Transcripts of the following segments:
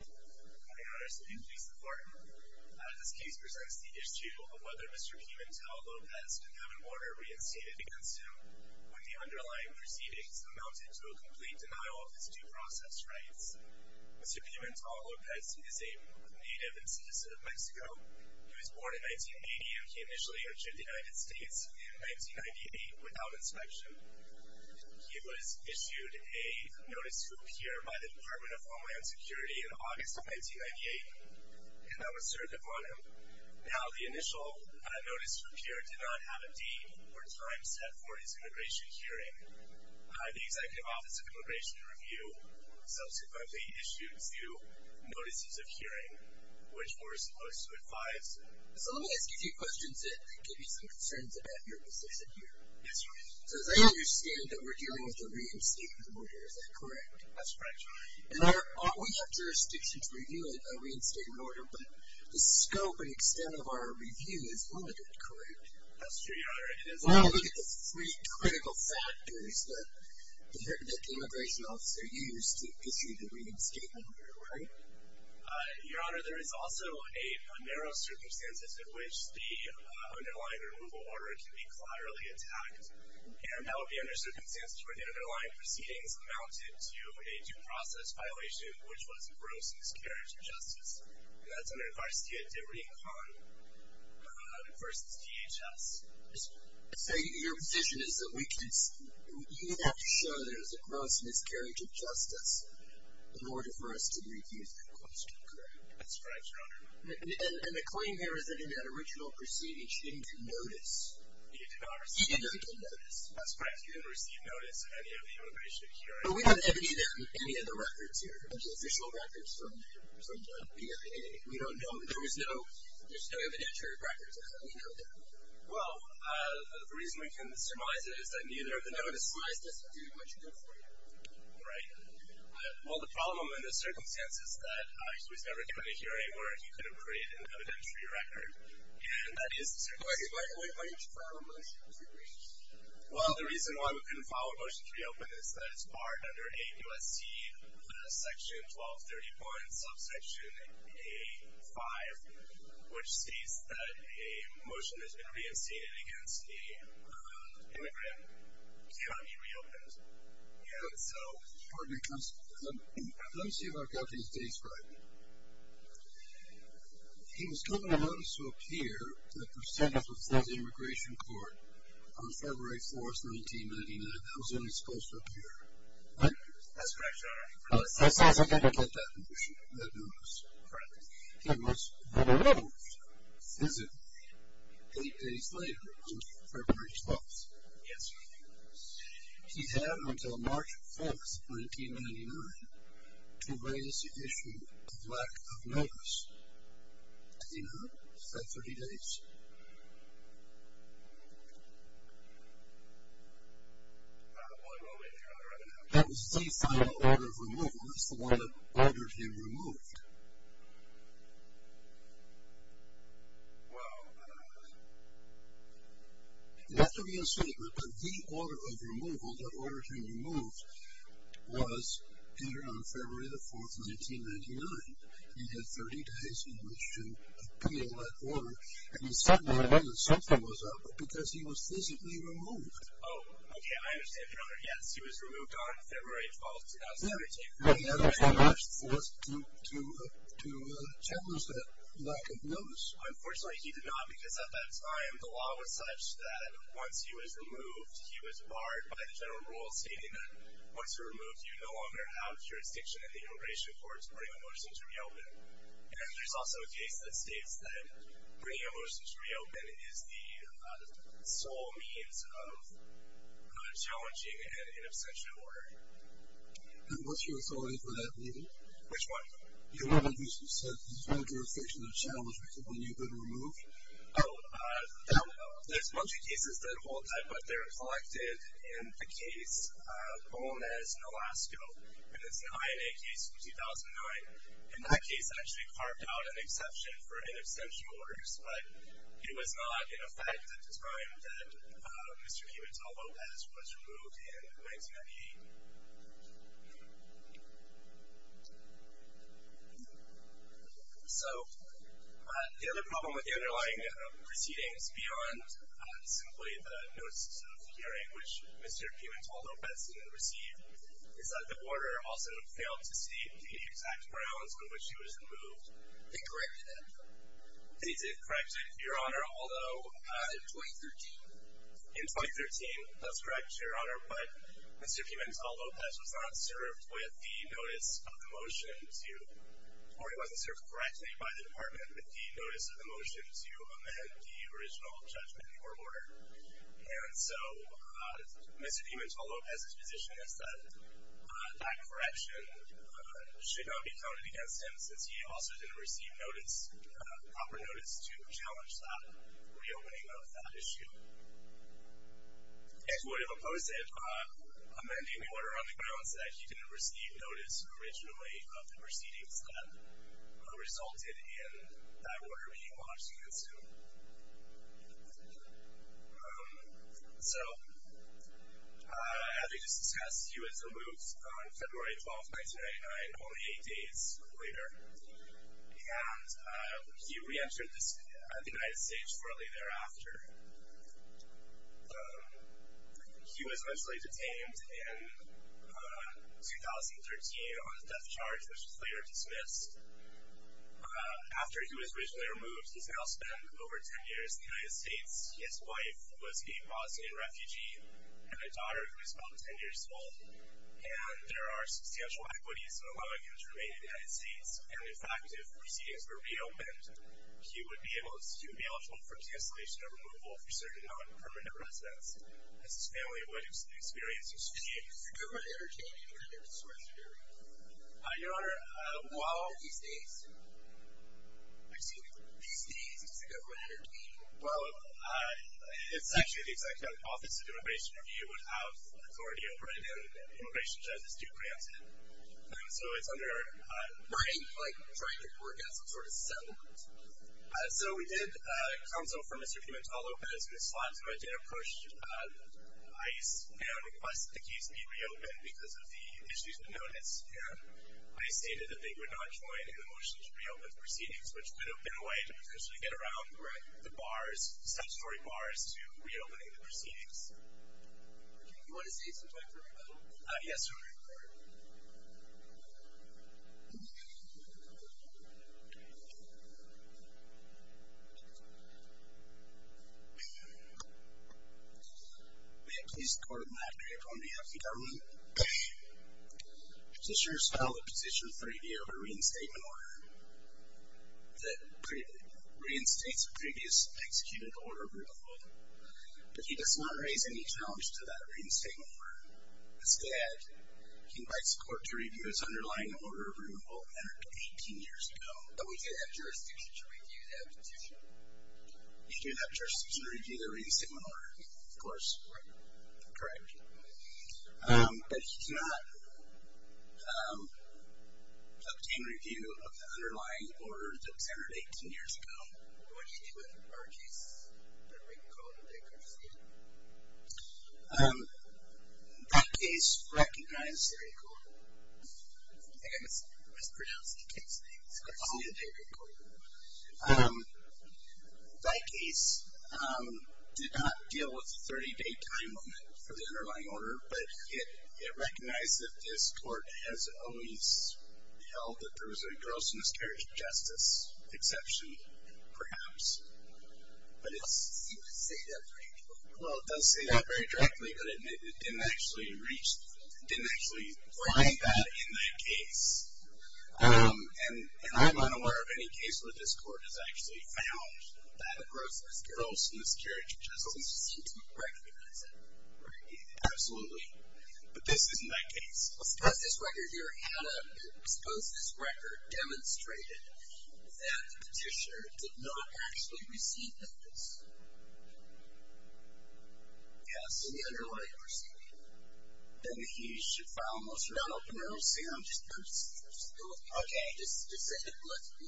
Good morning, Your Honors. Please be seated. This case presents the issue of whether Mr. Pimentel-Lopez could have an order reinstated against him when the underlying proceedings amounted to a complete denial of his due process rights. Mr. Pimentel-Lopez is a native and citizen of Mexico. He was born in 1980 and he initially entered the United States in 1998 without inspection. He was issued a Notice of Appearance by the Department of Homeland Security in August of 1998 and that was served upon him. Now, the initial Notice of Appearance did not have a date or time set for his immigration hearing. The Executive Office of Immigration Review subsequently issued two Notices of Hearing, which were supposed to advise... So let me ask you two questions that give you some concerns about your position here. Yes, Your Honor. So they understand that we're dealing with a reinstatement order, is that correct? That's correct, Your Honor. And we have jurisdiction to review a reinstatement order, but the scope and extent of our review is limited, correct? That's true, Your Honor. Well, look at the three critical factors that the immigration officer used to issue the reinstatement order, right? Your Honor, there is also a narrow circumstances in which the underlying removal order can be collaterally attacked, and that would be under circumstances where the underlying proceedings amounted to a due process violation, which was gross miscarriage of justice. And that's under Envarsidad de Recon versus DHS. So your position is that you would have to show that it was a gross miscarriage of justice in order for us to review that question, correct? That's correct, Your Honor. And the claim here is that in that original proceeding, she didn't get notice. She did not receive notice. That's correct. She didn't receive notice of any of the immigration hearing. But we don't have any of the records here, the official records from the PIA. We don't know. There's no evidentiary records. Well, the reason we can surmise it is that neither of the notices do much good for you. Right. Well, the problem in this circumstance is that she was never given a hearing where he could have created an evidentiary record, and that is the circumstance. Why didn't you file a motion to reopen? Well, the reason why we couldn't file a motion to reopen is that it's barred under AUSC Section 1230. Or in subsection A5, which states that a motion has been reinstated against a groomed immigrant. See what I mean? Reopened. Yeah. So let me see if I've got these dates right. He was given a notice to appear to the percentage of the immigration court on February 4th, 1999. That was when he was supposed to appear. What? That's correct, Your Honor. That's not significant, that motion, that notice. Correct. He was removed, is it, eight days later on February 12th. Yes, Your Honor. He had until March 4th, 1999, to raise the issue of lack of notice. See now? That's 30 days. That was the final order of removal. That's the one that ordered him removed. Well, that has to be a statement. But the order of removal, the order to remove, was appeared on February 4th, 1999. He had 30 days in which to appeal that order. And he suddenly learned that something was up because he was physically removed. Oh, okay. I understand, Your Honor. Yes, he was removed on February 12th, 2000. Let me take a look at that. He had until March 4th to challenge that lack of notice. Unfortunately, he did not because at that time, the law was such that once he was removed, he was barred by the general rule stating that once you're removed, you no longer have jurisdiction in the immigration court to bring a person to reopen. And there's also a case that states that bringing a person to reopen is the sole means of challenging an in absentia order. And what's your authority for that meeting? Which one? The one where you said there's no jurisdiction to challenge when you've been removed. Oh, there's a bunch of cases that hold that, but they're collected in the case, known as Nolasco, and it's an INA case from 2009. In that case, I actually carved out an exception for in absentia orders, but it was not in effect at the time that Mr. Pimentel-Lopez was removed in 1998. So the other problem with the underlying proceedings beyond simply the notice of hearing, which Mr. Pimentel-Lopez received, is that the order also failed to state the exact grounds on which he was removed. They corrected it. They did correct it, Your Honor, although... In 2013. In 2013, that's correct, Your Honor, but Mr. Pimentel-Lopez was not served with the notice of the motion to, or he wasn't served correctly by the department with the notice of the motion to amend the original judgment or order. And so Mr. Pimentel-Lopez's position is that that correction should not be toted against him since he also didn't receive notice, proper notice, to challenge that reopening of that issue. It would have opposed it amending the order on the grounds that he didn't receive notice originally of the proceedings that resulted in that order being launched against him. So, as we just discussed, he was removed on February 12, 1999, only eight days later, and he reentered the United States shortly thereafter. He was eventually detained in 2013 on a death charge, which was later dismissed. After he was originally removed, he's now spent over 10 years in the United States. His wife was a Bosnian refugee and a daughter who was about 10 years old, and there are substantial equities allowing him to remain in the United States. And, in fact, if proceedings were reopened, he would be eligible for cancellation or removal for certain non-permanent residence, as his family would experience his fate. Is the government entertaining him in any sort of way? Your Honor, while... These days? Excuse me? These days, is the government entertaining him? Well, it's actually the Executive Office of Immigration Review would have authority over it, and Immigration Judges do grant it. So it's under... Right, like trying to work out some sort of settlement. So we did consult for Mr. Pimentel-Lopez. We sought to get a push. ICE requested the case be reopened because of the issues we've noticed, and ICE stated that they would not join in the motion to reopen the proceedings, which would have been a way to potentially get around the bars, substory bars to reopening the proceedings. Do you want to say something for me, by the way? Yes, Your Honor. Thank you. May it please the Court of Magnitude, on behalf of the government, the Sheriff's filed a petition for review of a reinstatement order that reinstates a previous executed order of removal, but he does not raise any challenge to that reinstatement order. Instead, he invites the Court to review its underlying order of removal, but we do have jurisdiction to review that petition. You do have jurisdiction to review the reinstatement order, of course. Right. Correct. But he does not obtain review of the underlying order that was entered 18 years ago. What do you do with our case? That case recognizes... I think I mispronounced the case name. That case did not deal with the 30-day time limit for the underlying order, but it recognized that this Court has always held that there was a gross and scary injustice exception, perhaps. But it doesn't seem to say that very directly. Well, it does say that very directly, but it didn't actually find that in that case. And I'm unaware of any case where this Court has actually found that gross and scary injustice. It doesn't seem to recognize it. Right. Absolutely. But this is in that case. Suppose this record demonstrated that the petitioner did not actually receive notice. Yes. In the underlying proceeding. Then he should file a motion to not open it. No. See, I'm just confused. Okay.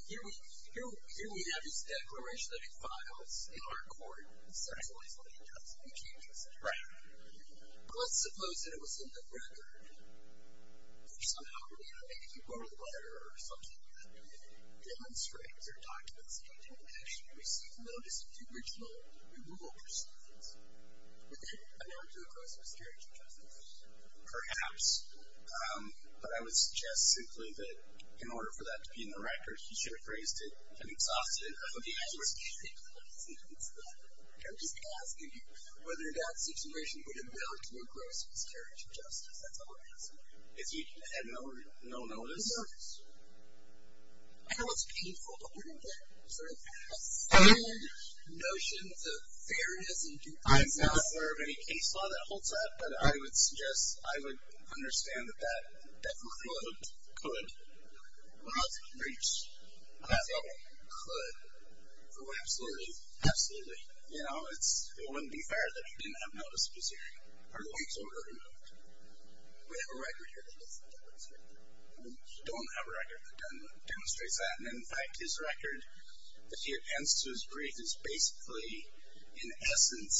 Here we have this declaration that he files in our Court, and it's actually what he does. He changes it. Right. But let's suppose that it was in the record. Or somehow, you know, maybe if you go to the letter or something, that it demonstrates or documents that he didn't actually receive notice of the original removal proceedings. Would that amount to a gross or a scary injustice? Perhaps. But I would suggest simply that in order for that to be in the record, he should have phrased it and exhausted it. Okay. I'm just curious. I'm just asking you whether that situation would amount to a gross or a scary injustice. That's all I'm asking. If he had no notice? No notice. I know it's painful to hear that sort of sad notion of fairness and due process. I'm not aware of any case law that holds that, but I would suggest I would understand that that could. Could. Well, it's a breach. Could. Oh, absolutely. Absolutely. You know, it wouldn't be fair that he didn't have notice of his hearing. Are the weeks already moved? We have a record here that doesn't demonstrate that. We don't have a record that demonstrates that. And, in fact, his record, if he attends to his brief, is basically, in essence,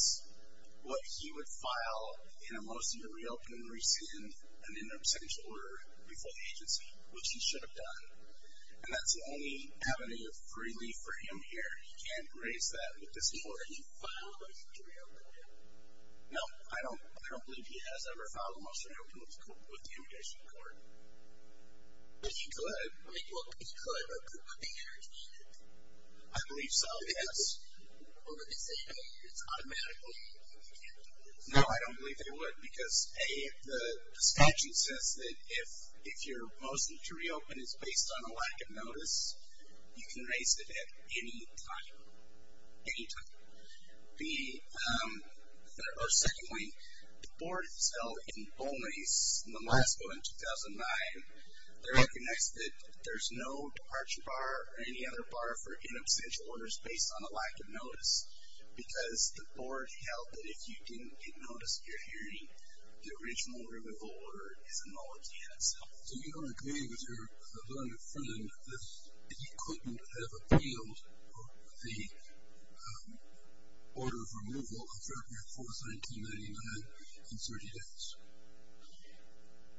what he would file in a motion to reopen and rescind an interim sentence order before the agency, which he should have done. And that's the only avenue of relief for him here. He can't erase that with this order. He filed a motion to reopen. No, I don't believe he has ever filed a motion to reopen with the If he could. Well, if he could, would the hearing be needed? I believe so, yes. Or would they say it's automatically? No, I don't believe they would. Because, A, the statute says that if your motion to reopen is based on a lack of notice, you can erase it at any time. Any time. B, or, secondly, the board has held in Bolton East, in the last vote in 2009, they recognized that there's no departure bar or any other bar for inabstantial orders based on a lack of notice. Because the board held that if you didn't get notice of your hearing, the original removal order is a nullity in itself. So you don't agree with your blended friend that he couldn't have appealed the order of removal on February 4th, 1999 in 30 days?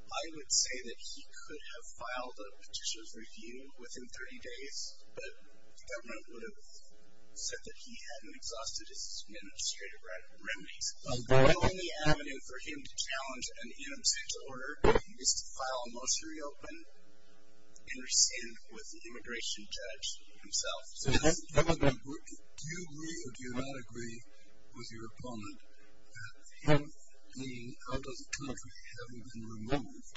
I would say that he could have filed a petitioner's review within 30 days, but the government would have said that he hadn't exhausted his administrative remedies. My only avenue for him to challenge an inabstantial order is to file a immigration judge himself. Do you agree or do you not agree with your opponent that if he, out of the country, hadn't been removed,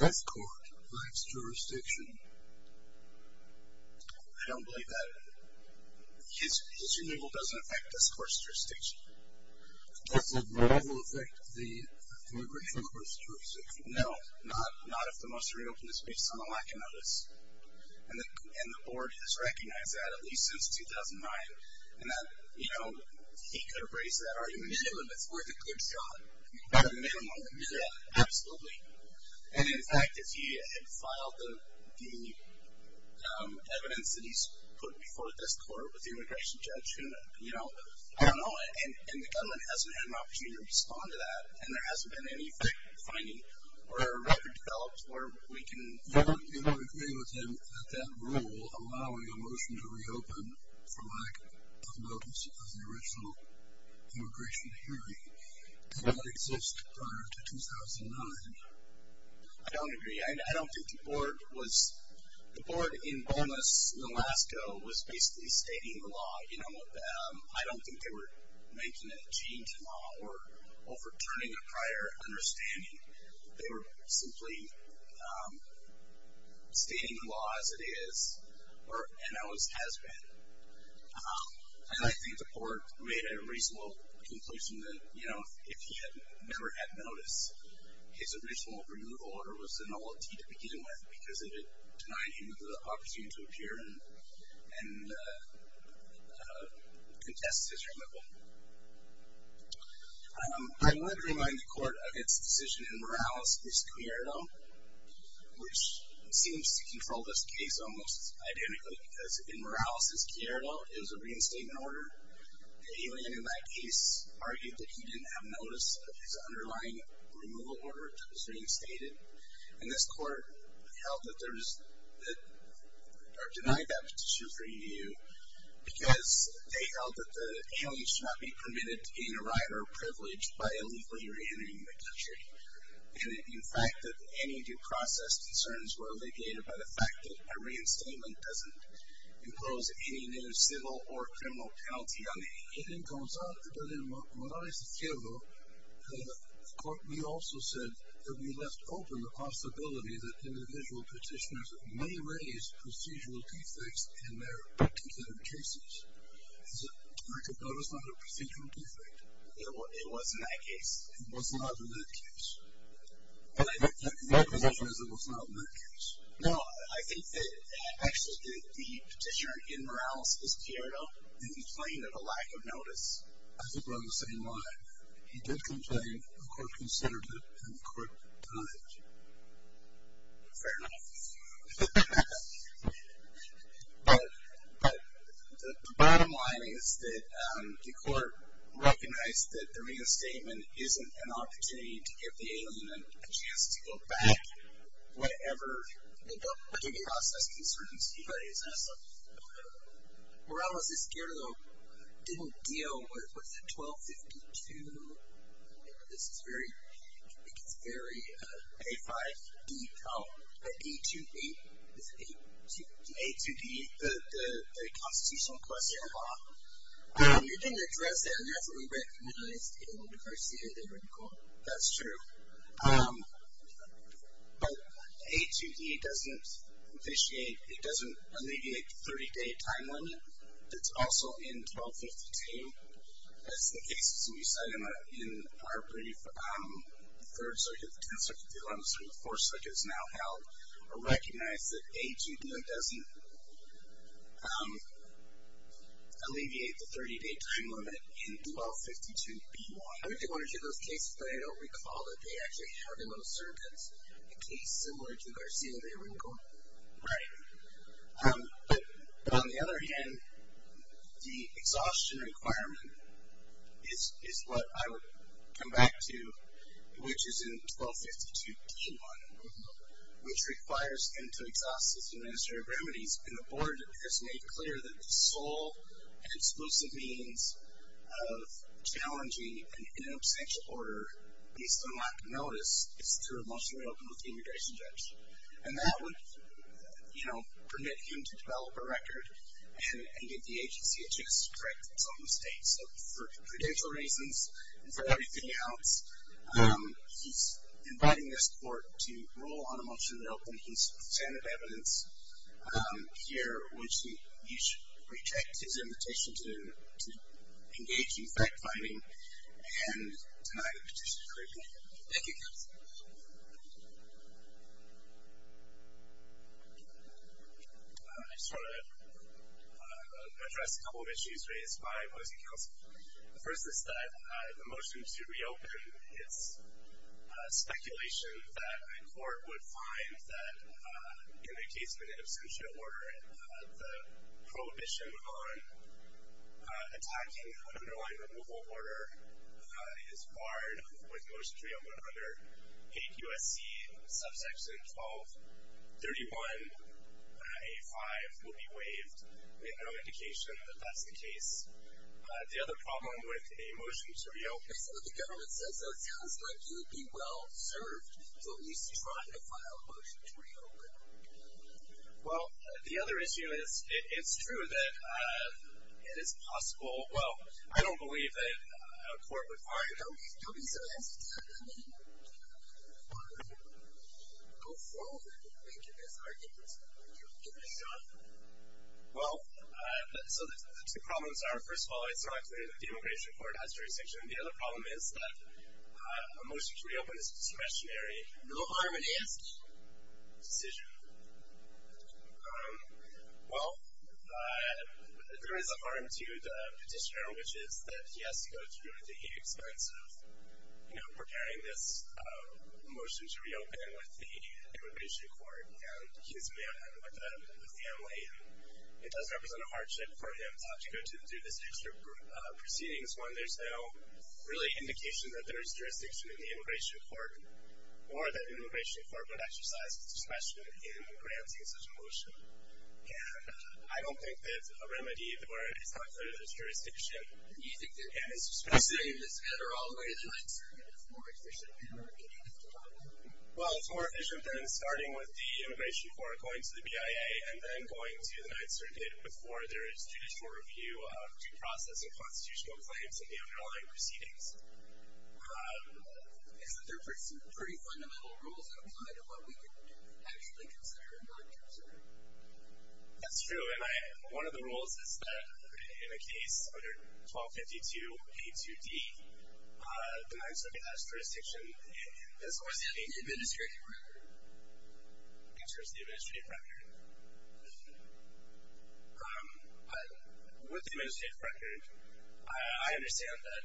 this court lacks jurisdiction? I don't believe that. His removal doesn't affect this court's jurisdiction. Does the removal affect the immigration court's jurisdiction? No. Not if the motion to reopen is based on a lack of notice. And the board has recognized that, at least since 2009, and that he could have raised that argument, even if it's worth a good shot, a minimum shot. Absolutely. And, in fact, if he had filed the evidence that he's put before this court with the immigration judge, you know, I don't know. And the government hasn't had an opportunity to respond to that, and there hasn't been any finding or record developed where we can agree with him that that rule allowing a motion to reopen for lack of notice of the original immigration hearing did not exist prior to 2009. I don't agree. I don't think the board was the board in Boneless, in Alaska, was basically stating the law, you know. I don't think they were making a change in law or overturning a prior understanding. They were simply stating the law as it is and how it has been. And I think the court made a reasonable conclusion that, you know, if he had never had notice, his original removal order was a nullity to begin with because it denied him the opportunity to appear and contest his removal. I want to remind the court of its decision in Morales v. Quierdo, which seems to control this case almost identically, because in Morales v. Quierdo, it was a reinstatement order. The alien in that case argued that he didn't have notice of his underlying removal order that was reinstated. And this court held that there was or denied that issue for review because they held that the alien should not be permitted to gain a right or privilege by illegally reentering the country. And, in fact, that any due process concerns were alleviated by the fact that a reinstatement doesn't impose any new civil or criminal penalty on the alien. It then comes out that in Morales v. Quierdo, the court also said that we left open the possibility that individual petitioners may raise procedural defects in their particular cases. Is it correct to note it's not a procedural defect? It was in that case. It was not in that case. And I think your position is it was not in that case. No, I think that actually the petitioner in Morales v. Quierdo didn't complain of a lack of notice. I think we're on the same line. He did complain, the court considered it, and the court denied it. Fair enough. But the bottom line is that the court recognized that the reinstatement isn't an opportunity to give the alien a chance to go back whatever the due process concerns he raised. Morales v. Quierdo didn't deal with the 1252. This is very A5 detail. The A2D, the Constitutional Question of Law. You didn't address that. You have what we recognized in Garcia that you recall. That's true. But A2D doesn't alleviate the 30-day time limit. It's also in 1252. That's the case, as we said, in our brief third circuit, the 10th circuit, the 11th circuit, the fourth circuit, is now held. We recognize that A2D doesn't alleviate the 30-day time limit in 1252-B1. I went to one or two of those cases, but I don't recall that they actually held in those circuits a case similar to Garcia v. Rincon. Right. But on the other hand, the exhaustion requirement is what I would come back to, which is in 1252-B1, which requires end-to-exhaustive administrative remedies. And the board has made clear that the sole and exclusive means of challenging in an abstention order based on lack of notice is through a motion to reopen with the immigration judge. And that would, you know, permit him to develop a record and give the agency a chance to correct some mistakes. So for credential reasons and for everything else, he's inviting this court to rule on a motion to open. He's a fan of evidence here, which you should reject his invitation to engage in fact-finding and deny the petition to reopen. Thank you, counsel. I just want to address a couple of issues raised by Boise Council. The first is that the motion to reopen is speculation that a court would find that in a case of an abstention order, the prohibition on attacking the underlying removal order is barred with a motion to reopen under APUSC subsection 1231A5 will be waived, with no indication that that's the case. The other problem with a motion to reopen. So the government says that sounds like you'd be well served to at least try to file a motion to reopen. Well, the other issue is it's true that it is possible. Well, I don't believe that a court would find. Don't be so hesitant. I mean, go forward and make your best argument. You'll get the shot. Well, so the problems are, first of all, it's not clear that the immigration court has jurisdiction. The other problem is that a motion to reopen is a discretionary decision. No harm in asking. Well, there is a harm to the petitioner, which is that he has to go through the expense of, you know, preparing this motion to reopen with the immigration court and his family. It does represent a hardship for him to have to go through this extra proceedings when there's no really indication that there's jurisdiction in the immigration court or that the immigration court would exercise discretion in granting such a motion. And I don't think that a remedy where it's not clear that there's jurisdiction is specific. Do you think that proceeding this matter all the way to the Ninth Circuit is more efficient than repeating this trial? Well, it's more efficient than starting with the immigration court, going to the BIA, and then going to the Ninth Circuit before there is judicial review of due process and constitutional claims in the underlying proceedings. Isn't there pretty fundamental rules that apply to what we could actually consider in the Ninth Circuit? That's true. And one of the rules is that in a case under 1252A2D, the Ninth Circuit has jurisdiction. And so what does that mean? The administrative record. In terms of the administrative record. With the administrative record, I understand that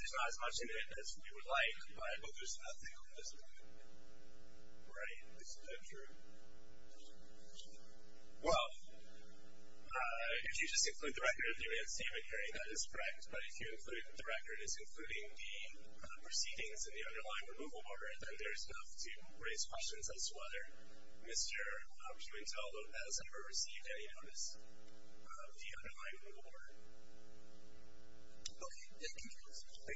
there's not as much in it as we would like, but there's nothing that doesn't. Right. Isn't that true? Well, if you just include the record of the unanimous statement, Harry, that is correct. But if you include the record as including the proceedings in the underlying removal order, then there's enough to raise questions as to whether Mr. Humantel has ever received any notice of the underlying removal order. Okay. Thank you. Thank you. Thank you.